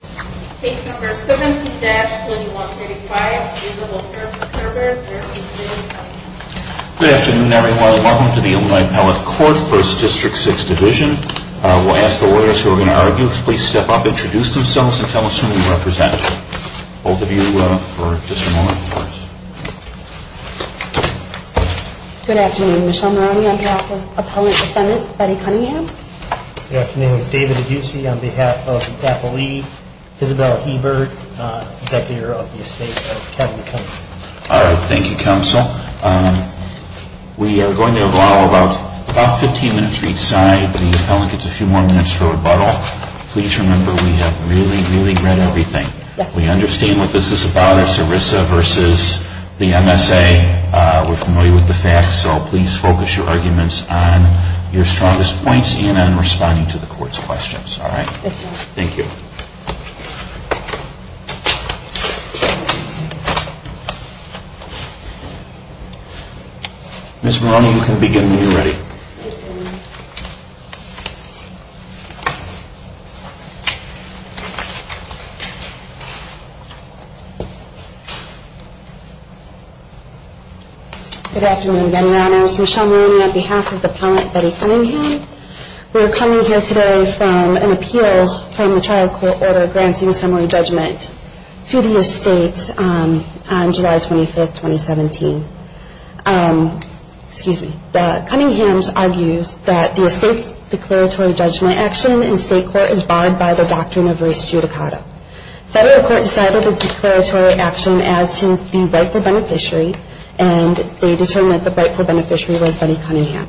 Good afternoon, everyone. Welcome to the Illinois Appellate Court, 1st District, 6th Division. We'll ask the lawyers who are going to argue to please step up, introduce themselves, and tell us who you represent. Both of you for just a moment, please. Good afternoon. Michelle Moroney on behalf of Appellant Defendant Betty Cunningham. Good afternoon. David Aduzzi on behalf of Appellee Isabella Hebert, Executive Director of the Estate of Kevin Cunningham. All right. Thank you, Counsel. We are going to have about 15 minutes for each side. The appellant gets a few more minutes for rebuttal. Please remember we have really, really read everything. We understand what this is about. It's ERISA versus the MSA. We're familiar with the facts, so please focus your arguments on your strongest points and on responding to the court's questions. All right? Thank you. Ms. Moroney, you can begin when you're ready. Good afternoon, Veterans. Michelle Moroney on behalf of Appellant Betty Cunningham. We are coming here today from an appeal from the trial court order granting summary judgment to the estate on July 25, 2017. Excuse me. Cunningham argues that the estate's declaratory judgment action in state court is barred by the doctrine of res judicata. Federal court decided the declaratory action as to the rightful beneficiary, and they determined that the rightful beneficiary was Betty Cunningham.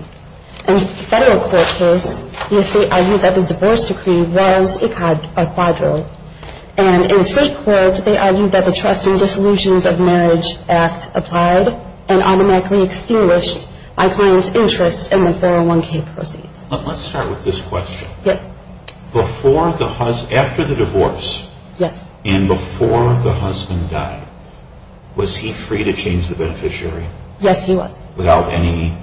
In the federal court case, the estate argued that the divorce decree was a quadro. And in state court, they argued that the trust and disillusions of marriage act applied and automatically extinguished my client's interest in the 401k proceeds. Let's start with this question. After the divorce and before the husband died, was he free to change the beneficiary? Yes, he was. Without any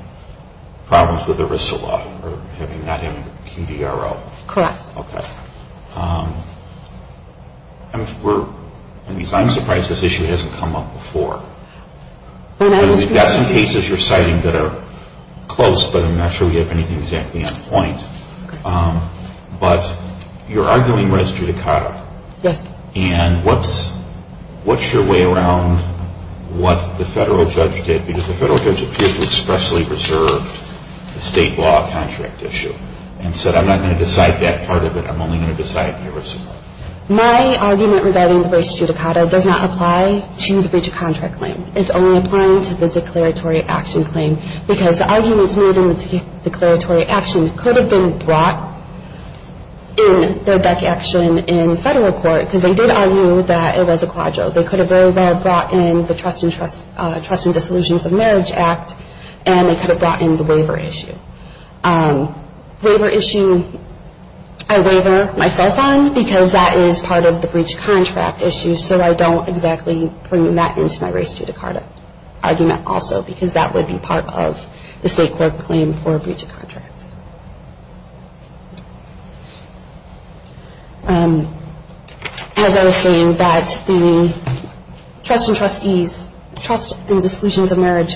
problems with ERISA law or having that in the QDRO? Correct. Okay. I'm surprised this issue hasn't come up before. We've got some cases you're citing that are close, but I'm not sure we have anything exactly on point. But you're arguing res judicata. Yes. And what's your way around what the federal judge did? Because the federal judge appeared to expressly reserve the state law contract issue and said, I'm not going to decide that part of it. I'm only going to decide ERISA. My argument regarding the res judicata does not apply to the breach of contract claim. It's only applying to the declaratory action claim, because the arguments made in the declaratory action could have been brought in their back action in federal court, because they did argue that it was a quadro. They could have very well brought in the trust and disillusions of marriage act, and they could have brought in the waiver issue. Waiver issue, I waiver myself on, because that is part of the breach of contract issue, so I don't exactly bring that into my res judicata argument also, because that would be part of the state court claim for breach of contract. As I was saying, that the trust and trustees, trust and disillusions of marriage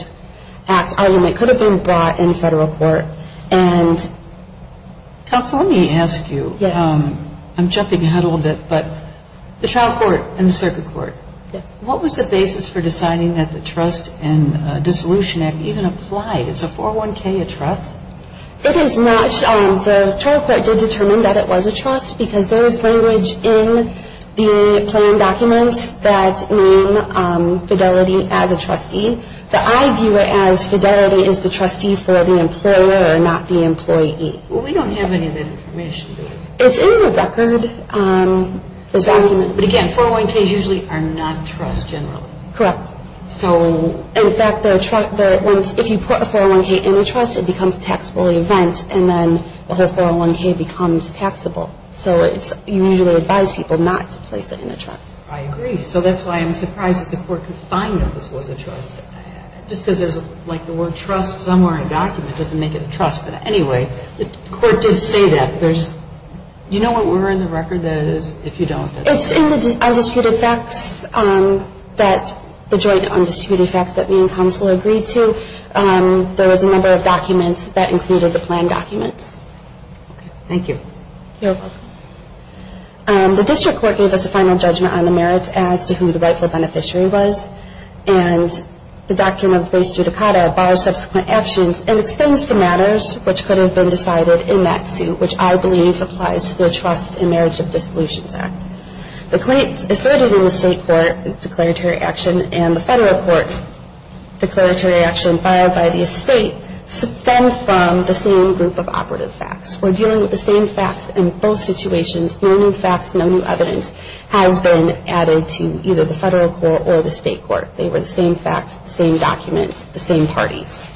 act argument could have been brought in federal court, and counsel, let me ask you. Yes. I'm jumping ahead a little bit, but the trial court and the circuit court. Yes. What was the basis for deciding that the trust and disillusion act even applied? Is a 401k a trust? It is not. The trial court did determine that it was a trust, because there is language in the plan documents that name fidelity as a trustee, but I view it as fidelity as the trustee for the employer, not the employee. We don't have any of that information. It's in the record, this document. But again, 401ks usually are not trusts generally. Correct. So in fact, if you put a 401k in a trust, it becomes a taxable event, and then the 401k becomes taxable. So you usually advise people not to place it in a trust. I agree. So that's why I'm surprised that the court could find that this was a trust, just because there's like the word trust somewhere in a document doesn't make it a trust. But anyway, the court did say that. You know what word in the record that it is if you don't? It's in the undisputed facts that the joint undisputed facts that me and counsel agreed to. There was a number of documents that included the plan documents. Thank you. You're welcome. The district court gave us a final judgment on the merits as to who the rightful beneficiary was, and the doctrine of res judicata bars subsequent actions and extends to matters which could have been decided in that suit, which I believe applies to the Trust and Marriage of Dissolutions Act. The claims asserted in the state court declaratory action and the federal court declaratory action filed by the estate stem from the same group of operative facts. We're dealing with the same facts in both situations. No new facts, no new evidence has been added to either the federal court or the state court. They were the same facts, the same documents, the same parties.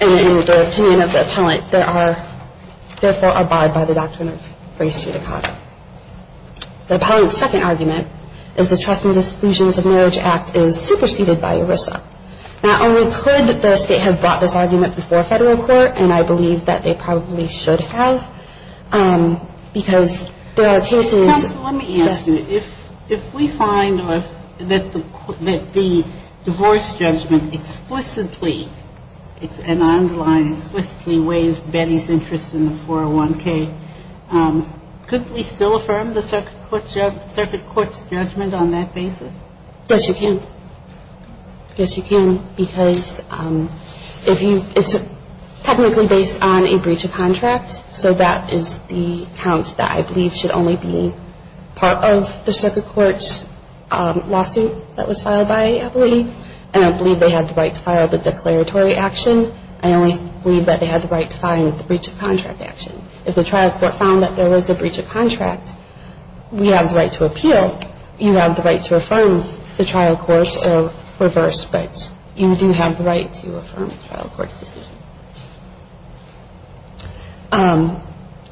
And in the opinion of the appellant, there are, therefore, abide by the doctrine of res judicata. The appellant's second argument is the Trust and Disclusions of Marriage Act is superseded by ERISA. Not only could the state have brought this argument before federal court, and I believe that they probably should have, because there are cases. Counsel, let me ask you. If we find that the divorce judgment explicitly, it's an underlying, explicitly waived Betty's interest in the 401K, could we still affirm the circuit court's judgment on that basis? Yes, you can. Yes, you can. Because if you, it's technically based on a breach of contract, so that is the count that I believe should only be part of the circuit court's lawsuit that was filed by an appellee. And I believe they had the right to file the declaratory action. I only believe that they had the right to file the breach of contract action. If the trial court found that there was a breach of contract, we have the right to appeal. So you have the right to affirm the trial court's or reverse, but you do have the right to affirm the trial court's decision.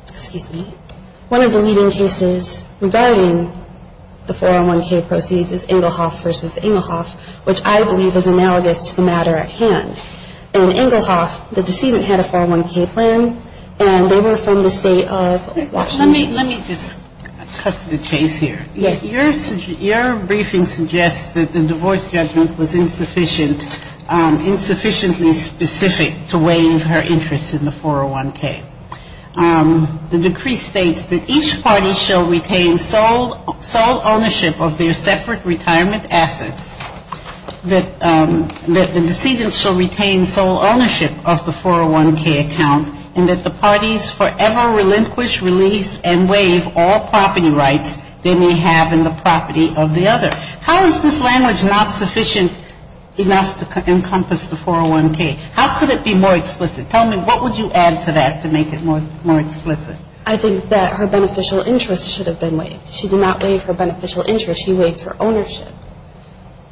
Excuse me. One of the leading cases regarding the 401K proceeds is Engelhoff v. Engelhoff, which I believe is analogous to the matter at hand. In Engelhoff, the decedent had a 401K plan, and they were from the state of Washington. Let me just cut to the chase here. Your briefing suggests that the divorce judgment was insufficient, insufficiently specific to waive her interest in the 401K. The decree states that each party shall retain sole ownership of their separate retirement assets, that the decedent shall retain sole ownership of the 401K account, and that the parties forever relinquish, release, and waive all property rights they may have in the property of the other. How is this language not sufficient enough to encompass the 401K? How could it be more explicit? Tell me, what would you add to that to make it more explicit? I think that her beneficial interest should have been waived. She did not waive her beneficial interest. She waived her ownership.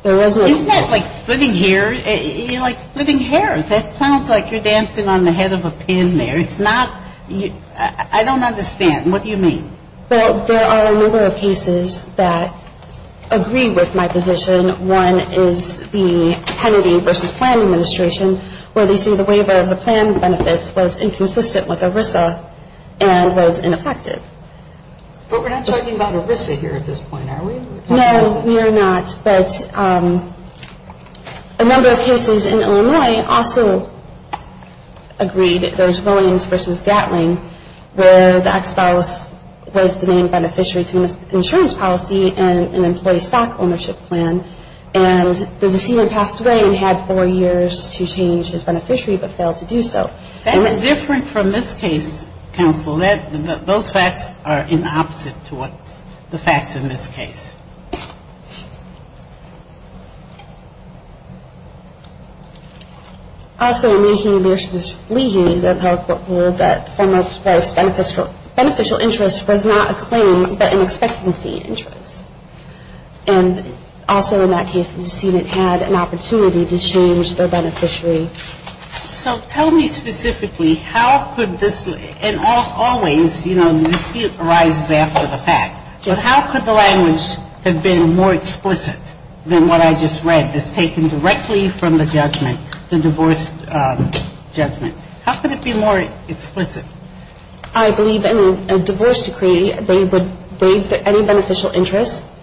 Isn't that like splitting hair? You're like splitting hairs. That sounds like you're dancing on the head of a pin there. I don't understand. What do you mean? Well, there are a number of cases that agree with my position. One is the Kennedy v. Plan Administration, where they say the waiver of the plan benefits was inconsistent with ERISA and was ineffective. But we're not talking about ERISA here at this point, are we? No, we are not. But a number of cases in Illinois also agreed, those Williams v. Gatling, where the ex-spouse was the named beneficiary to an insurance policy and an employee stock ownership plan, and the deceiver passed away and had four years to change his beneficiary but failed to do so. That's different from this case, counsel. Well, those facts are in opposite to what's the facts in this case. Also, Leahy v. Leahy, the federal court ruled that the former spouse's beneficial interest was not a claim but an expectancy interest. And also in that case, the decedent had an opportunity to change their beneficiary. So tell me specifically, how could this, and always, you know, the dispute arises after the fact, but how could the language have been more explicit than what I just read, that's taken directly from the judgment, the divorce judgment? How could it be more explicit? I believe in a divorce decree, they would waive any beneficial interest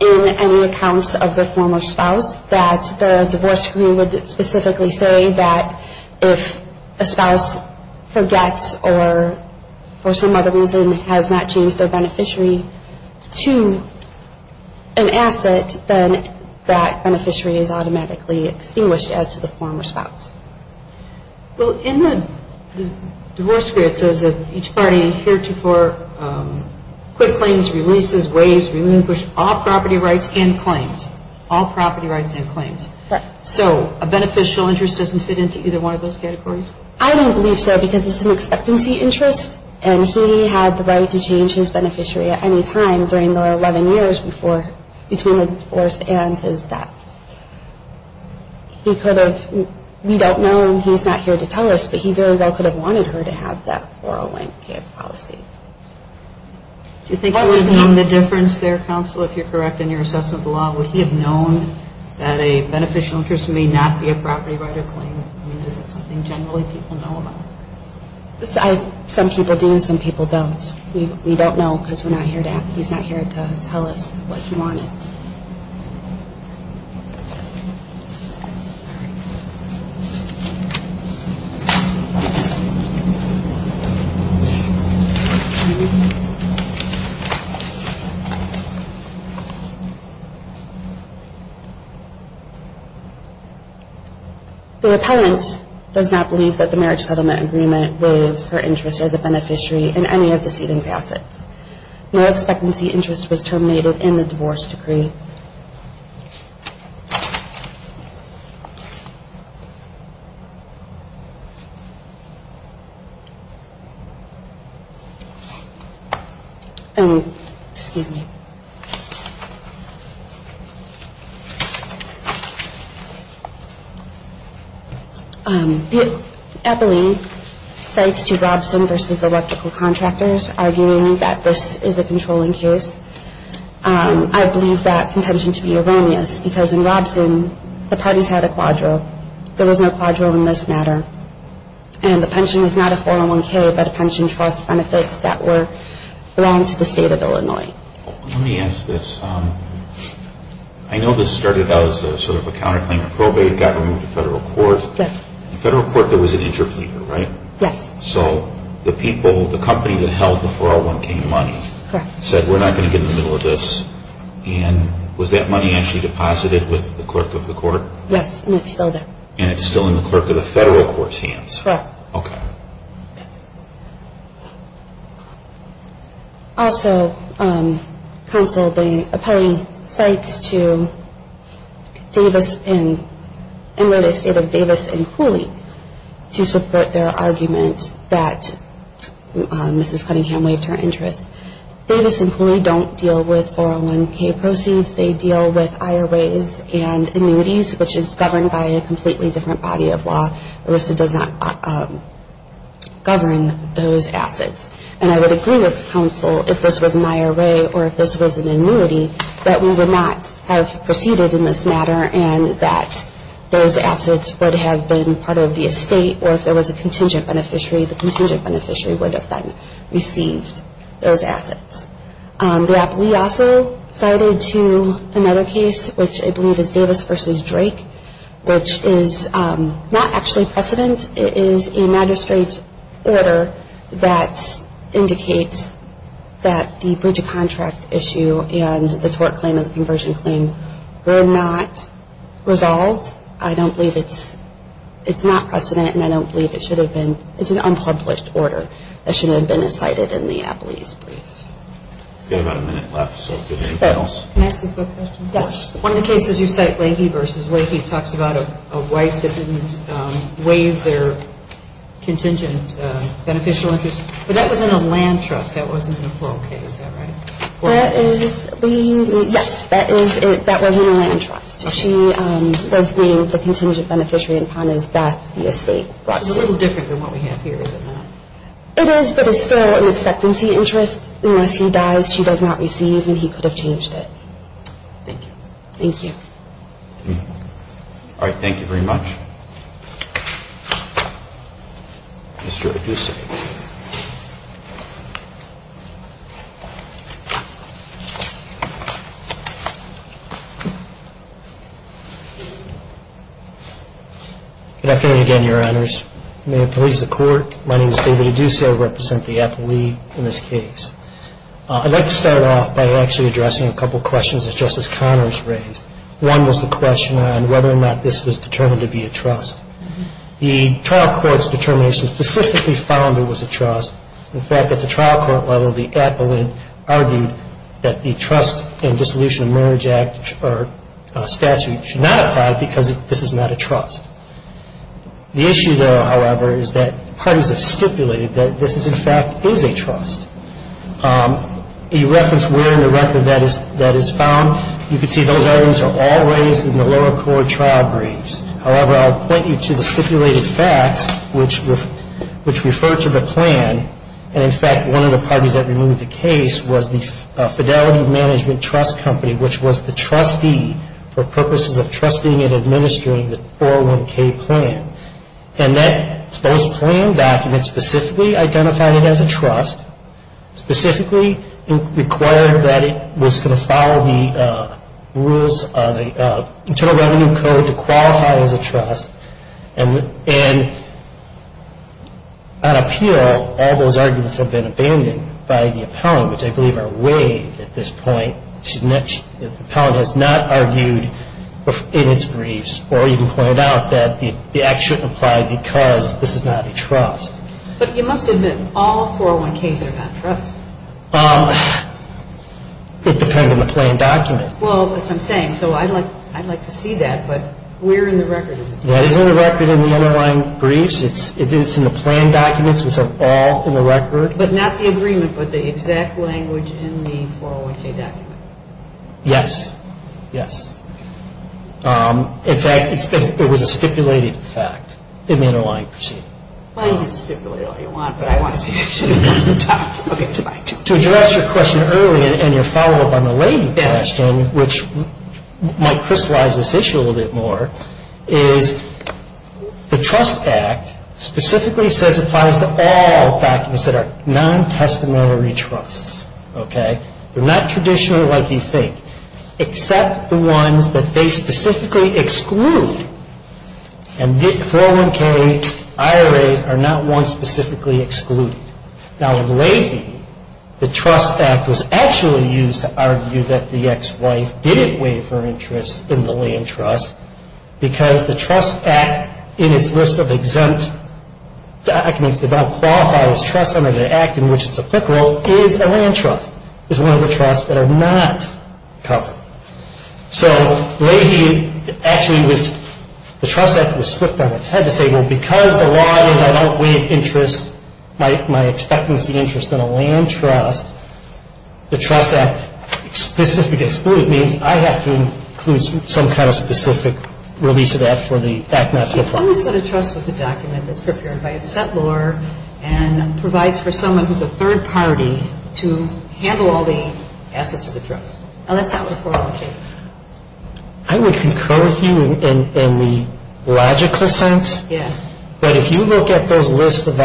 in any accounts of the former spouse, that the divorce decree would specifically say that if a spouse forgets or for some other reason has not changed their beneficiary to an asset, then that beneficiary is automatically extinguished as to the former spouse. Well, in the divorce decree, it says that each party heretofore quit claims, releases, waives, relinquished all property rights and claims. All property rights and claims. Correct. So a beneficial interest doesn't fit into either one of those categories? I don't believe so, because it's an expectancy interest, and he had the right to change his beneficiary at any time during the 11 years before, between the divorce and his death. He could have, we don't know, and he's not here to tell us, but he very well could have wanted her to have that 401k of policy. Do you think that would have been the difference there, counsel, if you're correct in your assessment of the law? Would he have known that a beneficial interest may not be a property right or claim? I mean, is that something generally people know about? Some people do, some people don't. We don't know, because we're not here to ask. He's not here to tell us what he wanted. All right. The appellant does not believe that the marriage settlement agreement waives her interest as a beneficiary in any of the seating's assets. No expectancy interest was terminated in the divorce decree. Excuse me. The appellant cites two Robson versus electrical contractors, arguing that this is a controlling case. I believe that contention to be erroneous, because in Robson, the parties had a quadro. There was no quadro in this matter, and the pension is not a 401k, but a pension trust benefits that were loaned to the state of Illinois. Let me ask this. I know this started out as sort of a counterclaim and probate, got removed to federal court. In federal court, there was an interpleader, right? Yes. So the people, the company that held the 401k money said, we're not going to get in the middle of this. And was that money actually deposited with the clerk of the court? Yes, and it's still there. And it's still in the clerk of the federal court's hands? Correct. Okay. Yes. Also, counsel, the appellee cites to Davis and the state of Davis and Cooley to support their argument that Mrs. Cunningham waived her interest. Davis and Cooley don't deal with 401k proceeds. They deal with IRAs and annuities, which is governed by a completely different body of law. ERISA does not govern those assets. And I would agree with counsel, if this was an IRA or if this was an annuity, that we would not have proceeded in this matter and that those assets would have been part of the estate, or if there was a contingent beneficiary, the contingent beneficiary would have then received those assets. The appellee also cited to another case, which I believe is Davis v. Drake, which is not actually precedent. It is a magistrate's order that indicates that the breach of contract issue and the tort claim and the conversion claim were not resolved. I don't believe it's not precedent, and I don't believe it should have been. It's an unpublished order that shouldn't have been cited in the appellee's brief. We've got about a minute left, so if there's anything else. Can I ask a quick question? Yes. One of the cases you cite, Leahy v. Leahy, talks about a wife that didn't waive their contingent beneficial interest. But that was in a land trust. That wasn't in a plural case, is that right? Yes, that was in a land trust. She does leave the contingent beneficiary upon his death, the estate. It's a little different than what we have here, is it not? It is, but it's still an expectancy interest. Unless he dies, she does not receive, and he could have changed it. Thank you. Thank you. All right. Thank you very much. Mr. Aduce. Good afternoon again, Your Honors. May it please the Court, my name is David Aduce. I represent the appellee in this case. I'd like to start off by actually addressing a couple questions that Justice Connors raised. One was the question on whether or not this was determined to be a trust. The trial court's determination specifically found it was a trust. In fact, at the trial court level, the appellate argued that the trust in the Dissolution of Marriage Act statute should not apply because this is not a trust. The issue, though, however, is that parties have stipulated that this is, in fact, is a trust. You referenced where in the record that is found. You can see those items are all raised in the lower court trial briefs. However, I'll point you to the stipulated facts, which refer to the plan. And, in fact, one of the parties that removed the case was the Fidelity Management Trust Company, which was the trustee for purposes of trusting and administering the 401K plan. And those plan documents specifically identified it as a trust, specifically required that it was going to follow the rules of the Internal Revenue Code to qualify as a trust. And on appeal, all those arguments have been abandoned by the appellant, which I believe are waived at this point. The appellant has not argued in its briefs or even pointed out that the act shouldn't apply because this is not a trust. But you must admit all 401Ks are not trusts. It depends on the plan document. Well, as I'm saying, so I'd like to see that, but where in the record is it? That is in the record in the underlying briefs. But not the agreement, but the exact language in the 401K document. Yes. Yes. In fact, it was a stipulated fact in the underlying proceeding. Well, you can stipulate all you want, but I want to see it. To address your question earlier and your follow-up on the lady question, which might crystallize this issue a little bit more, is the Trust Act specifically says it applies to all documents that are non-testimony trusts. Okay? They're not traditional like you think, except the ones that they specifically exclude. And 401K IRAs are not ones specifically excluded. Now, in Leahy, the Trust Act was actually used to argue that the ex-wife didn't waive her interest in the land trust because the Trust Act in its list of exempt documents that don't qualify as trusts under the act in which it's applicable is a land trust, is one of the trusts that are not covered. So, Leahy actually was, the Trust Act was swiped on its head to say, well, because the law is I don't waive interest, my expectancy interest in a land trust, the Trust Act specifically excludes. It means I have to include some kind of specific release of that for the act not to apply. She always said a trust was a document that's prepared by a settlor and provides for someone who's a third party to handle all the assets of the trust. Now, that's not what 401K is. I would concur with you in the logical sense. Yeah. But if you look at those lists of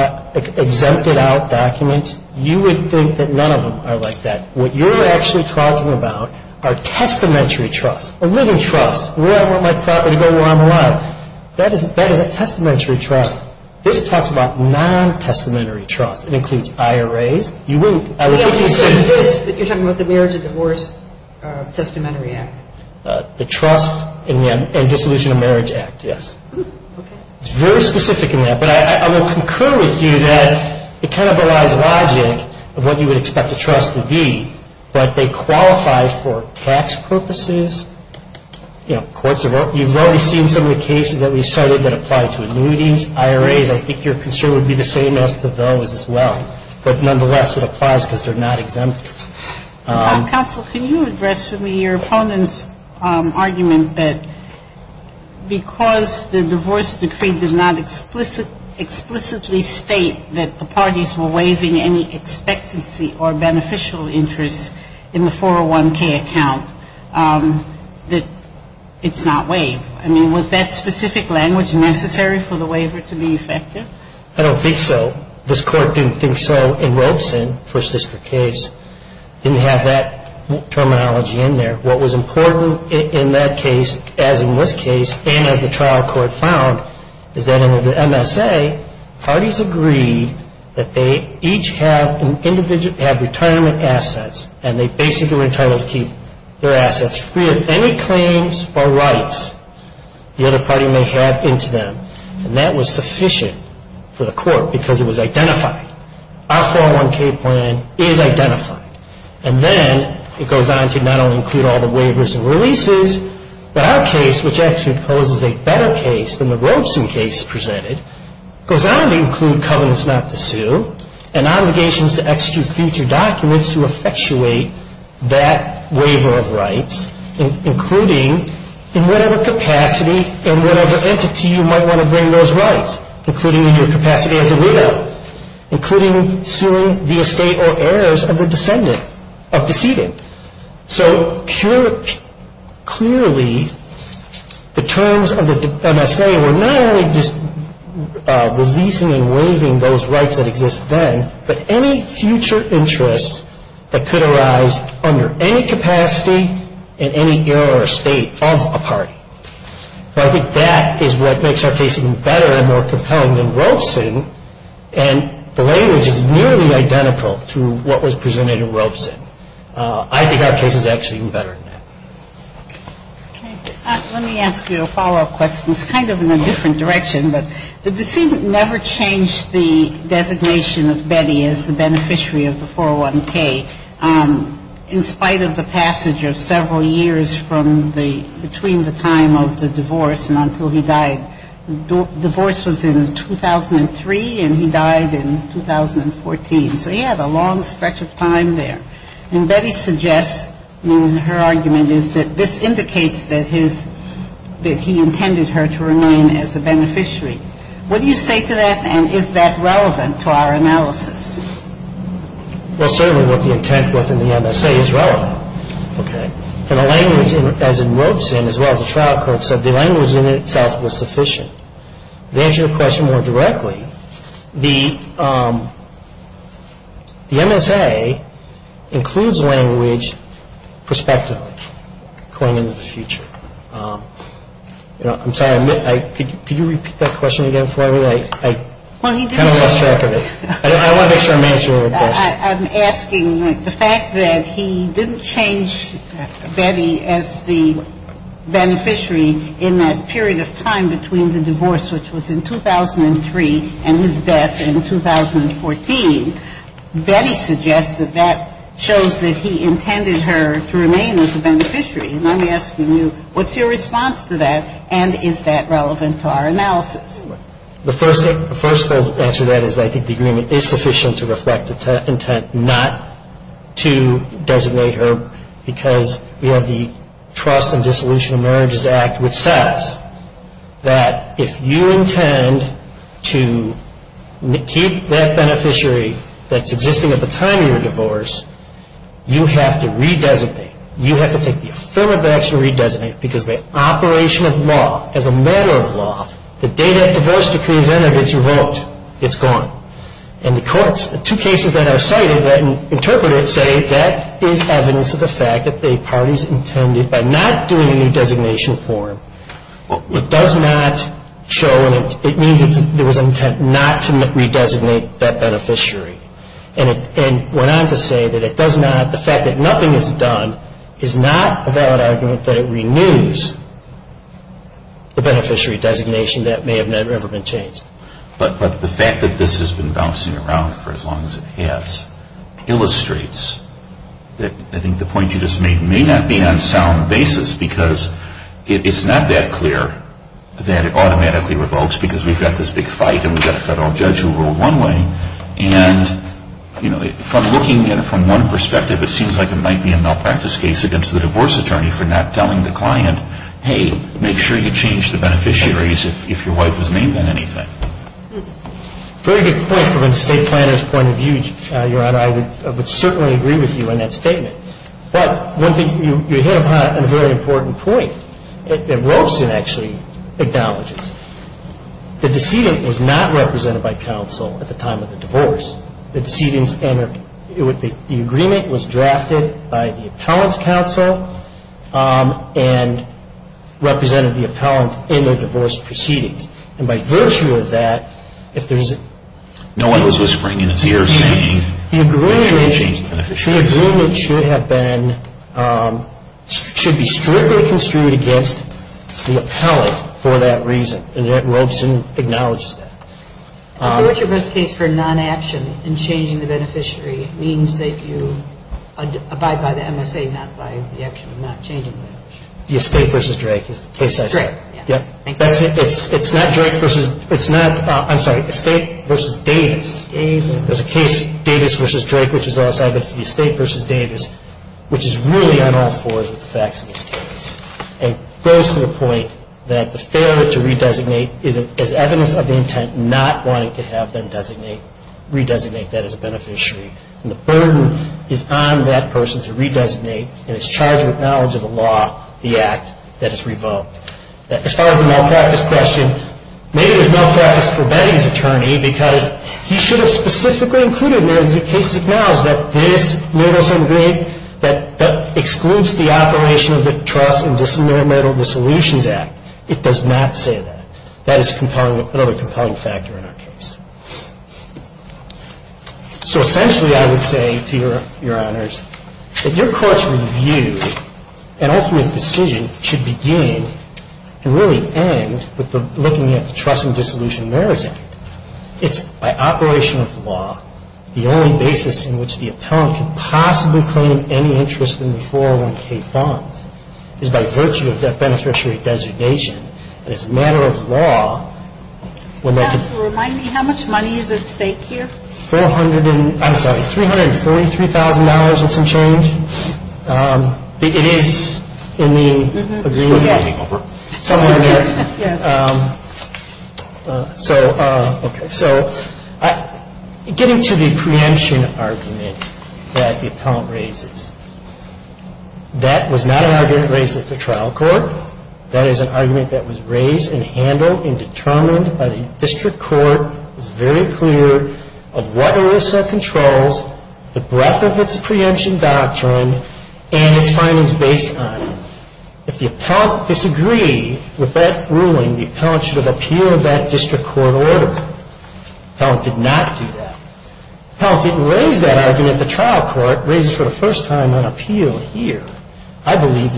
exempted out documents, you would think that none of them are like that. What you're actually talking about are testamentary trusts, a living trust, where I want my property to go, where I'm alive. That is a testamentary trust. This talks about non-testamentary trusts. It includes IRAs. You wouldn't. You're talking about the Marriage and Divorce Testamentary Act. The Trust and Dissolution of Marriage Act, yes. Okay. It's very specific in that. But I will concur with you that it kind of relies on logic of what you would expect a trust to be, but they qualify for tax purposes, you know, courts. You've already seen some of the cases that we've studied that apply to annuities, IRAs. I think your concern would be the same as to those as well. But nonetheless, it applies because they're not exempt. Counsel, can you address for me your opponent's argument that because the divorce decree does not explicitly state that the parties were waiving any expectancy or beneficial interest in the 401K account, that it's not waived. I mean, was that specific language necessary for the waiver to be effective? I don't think so. This Court didn't think so in Robeson, first district case. It didn't have that terminology in there. What was important in that case, as in this case, and as the trial court found, is that under the MSA, parties agreed that they each have retirement assets, and they basically were entitled to keep their assets free of any claims or rights the other party may have into them. And that was sufficient for the Court because it was identified. Our 401K plan is identified. And then it goes on to not only include all the waivers and releases, but our case, which actually poses a better case than the Robeson case presented, goes on to include covenants not to sue and obligations to execute future documents to effectuate that waiver of rights, including in whatever capacity and whatever entity you might want to bring those rights, including in your capacity as a widow, including suing the estate or heirs of the decedent. So clearly, the terms of the MSA were not only just releasing and waiving those rights that exist then, but any future interests that could arise under any capacity in any era or state of a party. So I think that is what makes our case even better and more compelling than Robeson, and the language is nearly identical to what was presented in Robeson. I think our case is actually even better than that. Let me ask you a follow-up question. The decedent never changed the designation of Betty as the beneficiary of the 401K in spite of the passage of several years from the ‑‑ between the time of the divorce and until he died. Divorce was in 2003, and he died in 2014. So he had a long stretch of time there. And Betty suggests, I mean, her argument is that this indicates that his ‑‑ that he intended her to remain as a beneficiary. What do you say to that, and is that relevant to our analysis? Well, certainly what the intent was in the MSA is relevant. Okay. And the language, as in Robeson, as well as the trial court, said the language in itself was sufficient. The MSA includes language prospectively going into the future. I'm sorry, could you repeat that question again for me? I kind of lost track of it. I want to make sure I'm answering your question. I'm asking the fact that he didn't change Betty as the beneficiary in that period of time between the divorce, which was in 2003, and his death in 2014. Betty suggests that that shows that he intended her to remain as a beneficiary. And I'm asking you, what's your response to that, and is that relevant to our analysis? The first thing to answer to that is I think the agreement is sufficient to reflect the intent not to designate her because we have the Trust and Dissolution of Marriages Act, which says that if you intend to keep that beneficiary that's existing at the time of your divorce, you have to re-designate. You have to take the affirmative action to re-designate because by operation of law, as a matter of law, the day that divorce decree is entered, it's revoked. It's gone. And the courts, two cases that are cited that interpret it say that is evidence of the fact that the parties intended by not doing a new designation form, it does not show, it means there was intent not to re-designate that beneficiary. And went on to say that it does not, the fact that nothing is done is not a valid argument that it renews the beneficiary designation that may have never, ever been changed. But the fact that this has been bouncing around for as long as it has illustrates that I think the point you just made may not be on sound basis because it's not that clear that it automatically revokes because we've got this big fight and we've got a federal judge who ruled one way. And from looking at it from one perspective, it seems like it might be a malpractice case against the divorce attorney for not telling the client, hey, make sure you change the beneficiaries if your wife was named on anything. Very good point from an estate planner's point of view, Your Honor. I would certainly agree with you on that statement. But one thing you hit upon on a very important point that Robeson actually acknowledges. The decedent was not represented by counsel at the time of the divorce. The agreement was drafted by the appellant's counsel and represented the appellant in the divorce proceedings. And by virtue of that, if there's a... No one was whispering in his ear saying, make sure you change the beneficiaries. The agreement should have been, should be strictly construed against the appellant for that reason. And Robeson acknowledges that. So what's your best case for non-action in changing the beneficiary? It means that you abide by the MSA, not by the action of not changing the beneficiary. The estate versus Drake is the case I said. Drake, yeah. It's not Drake versus, it's not, I'm sorry, estate versus Davis. Davis. There's a case, Davis versus Drake, which is also the estate versus Davis, which is really on all fours with the facts of this case. And goes to the point that the failure to redesignate is evidence of the intent not wanting to have them designate, redesignate that as a beneficiary. And the burden is on that person to redesignate, and it's charged with knowledge of the law, the act, that is revoked. As far as the malpractice question, maybe there's malpractice for Betty's attorney because he should have specifically included it in the case, So essentially, I would say to your honors, that your court's review and ultimate decision should begin and really end with looking at the Trust and Dissolution of Merits Act. It's by operation of the law, the only basis on which the court can decide in which the appellant can possibly claim any interest in the 401k funds is by virtue of that beneficiary designation. It's a matter of law. Remind me, how much money is at stake here? $343,000 and some change. Somewhere in there. Yes. So, okay, so getting to the preemption argument that the appellant raises, that was not an argument raised at the trial court. That is an argument that was raised and handled and determined by the district court, was very clear of what ERISA controls, the breadth of its preemption doctrine, and its findings based on it. If the appellant disagreed with that ruling, the appellant should have appealed that district court order. The appellant did not do that. The appellant didn't raise that argument at the trial court, raises for the first time on appeal here. I believe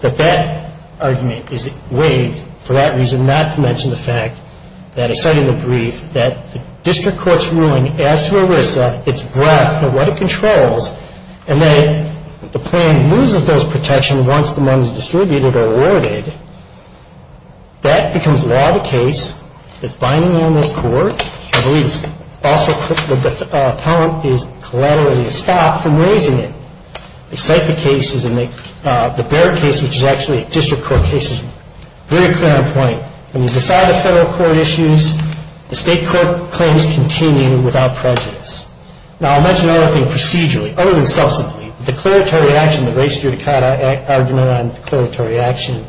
that that argument is waived for that reason, not to mention the fact that I cite in the brief that the district court's ruling as to ERISA, its breadth and what it controls, and that the plan loses those protections once the money is distributed or awarded. That becomes law of the case. It's binding on this court. I believe it's also the appellant is collaterally stopped from raising it. They cite the cases and the Baird case, which is actually a district court case, is very clear on point. When you decide a federal court issues, the state court claims continue without prejudice. Now, I'll mention another thing procedurally. Other than substantially, the declaratory action, the race judicata argument on declaratory action,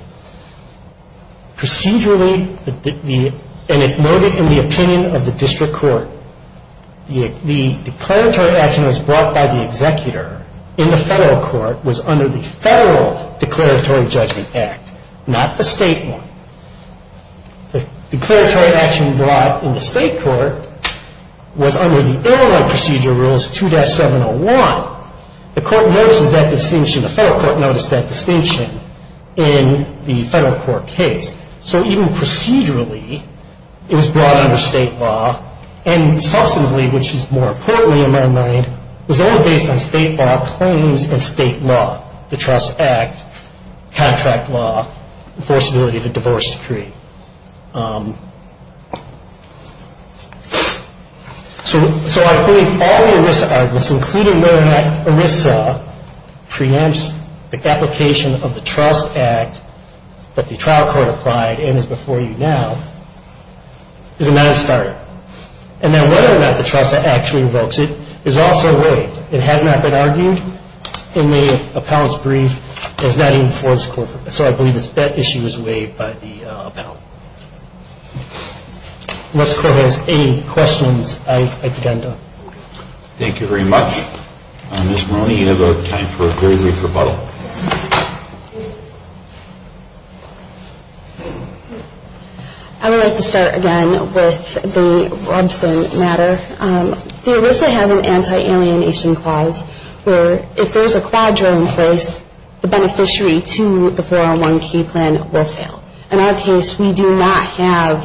procedurally, and it noted in the opinion of the district court, the declaratory action that was brought by the executor in the federal court was under the federal declaratory judgment act, not the state one. The declaratory action brought in the state court was under the airline procedure rules 2-701. The court notices that distinction. The federal court noticed that distinction in the federal court case. So even procedurally, it was brought under state law, and substantively, which is more importantly in my mind, was only based on state law claims and state law, the trust act, contract law, enforceability of a divorce decree. So I think all the ERISA arguments, including whether or not ERISA preempts the application of the trust act that the trial court applied and is before you now, is a nice starter. And then whether or not the trust act actually revokes it is also a weight. It has not been argued in the appellant's brief as not even before this court. So I believe that issue is weighed by the appellant. Unless the court has any questions, I'd like to end on that. Thank you very much. Ms. Moroney, you have time for a very brief rebuttal. I would like to start again with the Robson matter. The ERISA has an anti-alienation clause where if there's a quadro in place, the beneficiary to the 401k plan will fail. In our case, we do not have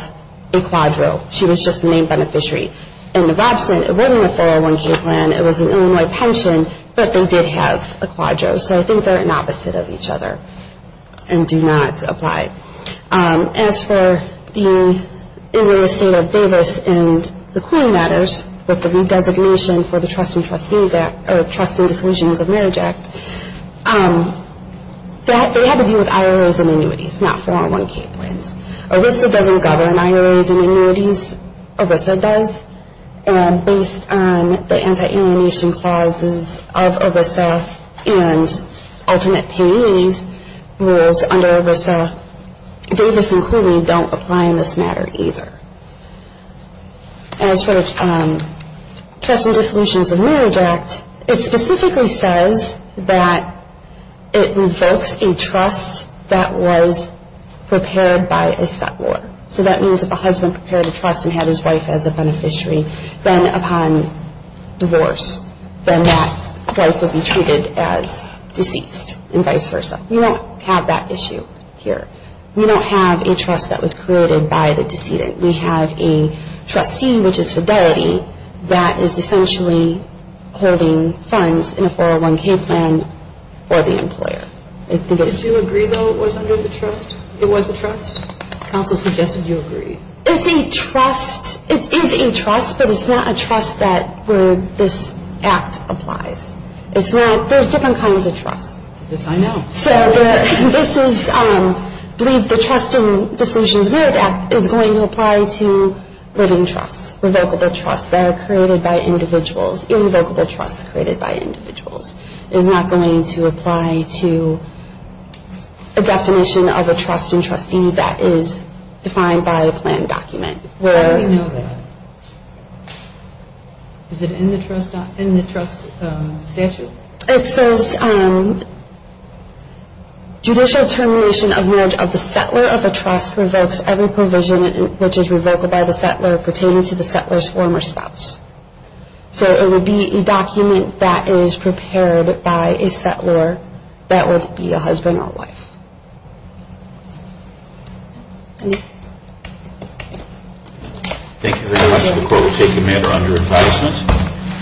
a quadro. She was just the main beneficiary. In the Robson, it wasn't a 401k plan. It was an Illinois pension, but they did have a quadro. So I think they're an opposite of each other and do not apply. As for the state of Davis and the Queen matters, with the designation for the Trust and Disclusions of Marriage Act, they have to deal with IRAs and annuities, not 401k plans. ERISA doesn't govern IRAs and annuities. ERISA does, and based on the anti-alienation clauses of ERISA and ultimate pay annuities rules under ERISA, Davis and Cooley don't apply in this matter either. As for the Trust and Disclusions of Marriage Act, it specifically says that it revokes a trust that was prepared by a settlor. So that means if a husband prepared a trust and had his wife as a beneficiary, then upon divorce, then that wife would be treated as deceased and vice versa. You don't have that issue here. You don't have a trust that was created by the decedent. We have a trustee, which is fidelity, that is essentially holding funds in a 401k plan for the employer. Did you agree, though, it was under the trust? It was the trust? Counsel suggested you agreed. It's a trust. It is a trust, but it's not a trust that where this act applies. It's not. There's different kinds of trust. Yes, I know. So this is, I believe the Trust and Disclusions of Marriage Act is going to apply to living trusts, revocable trusts that are created by individuals, irrevocable trusts created by individuals. It is not going to apply to a definition of a trust and trustee that is defined by a plan document. How do you know that? Is it in the trust statute? It says, judicial termination of marriage of the settlor of a trust revokes every provision, which is revocable by the settlor, pertaining to the settlor's former spouse. So it would be a document that is prepared by a settlor that would be a husband or wife. Thank you very much. The Court will take the matter under advisement.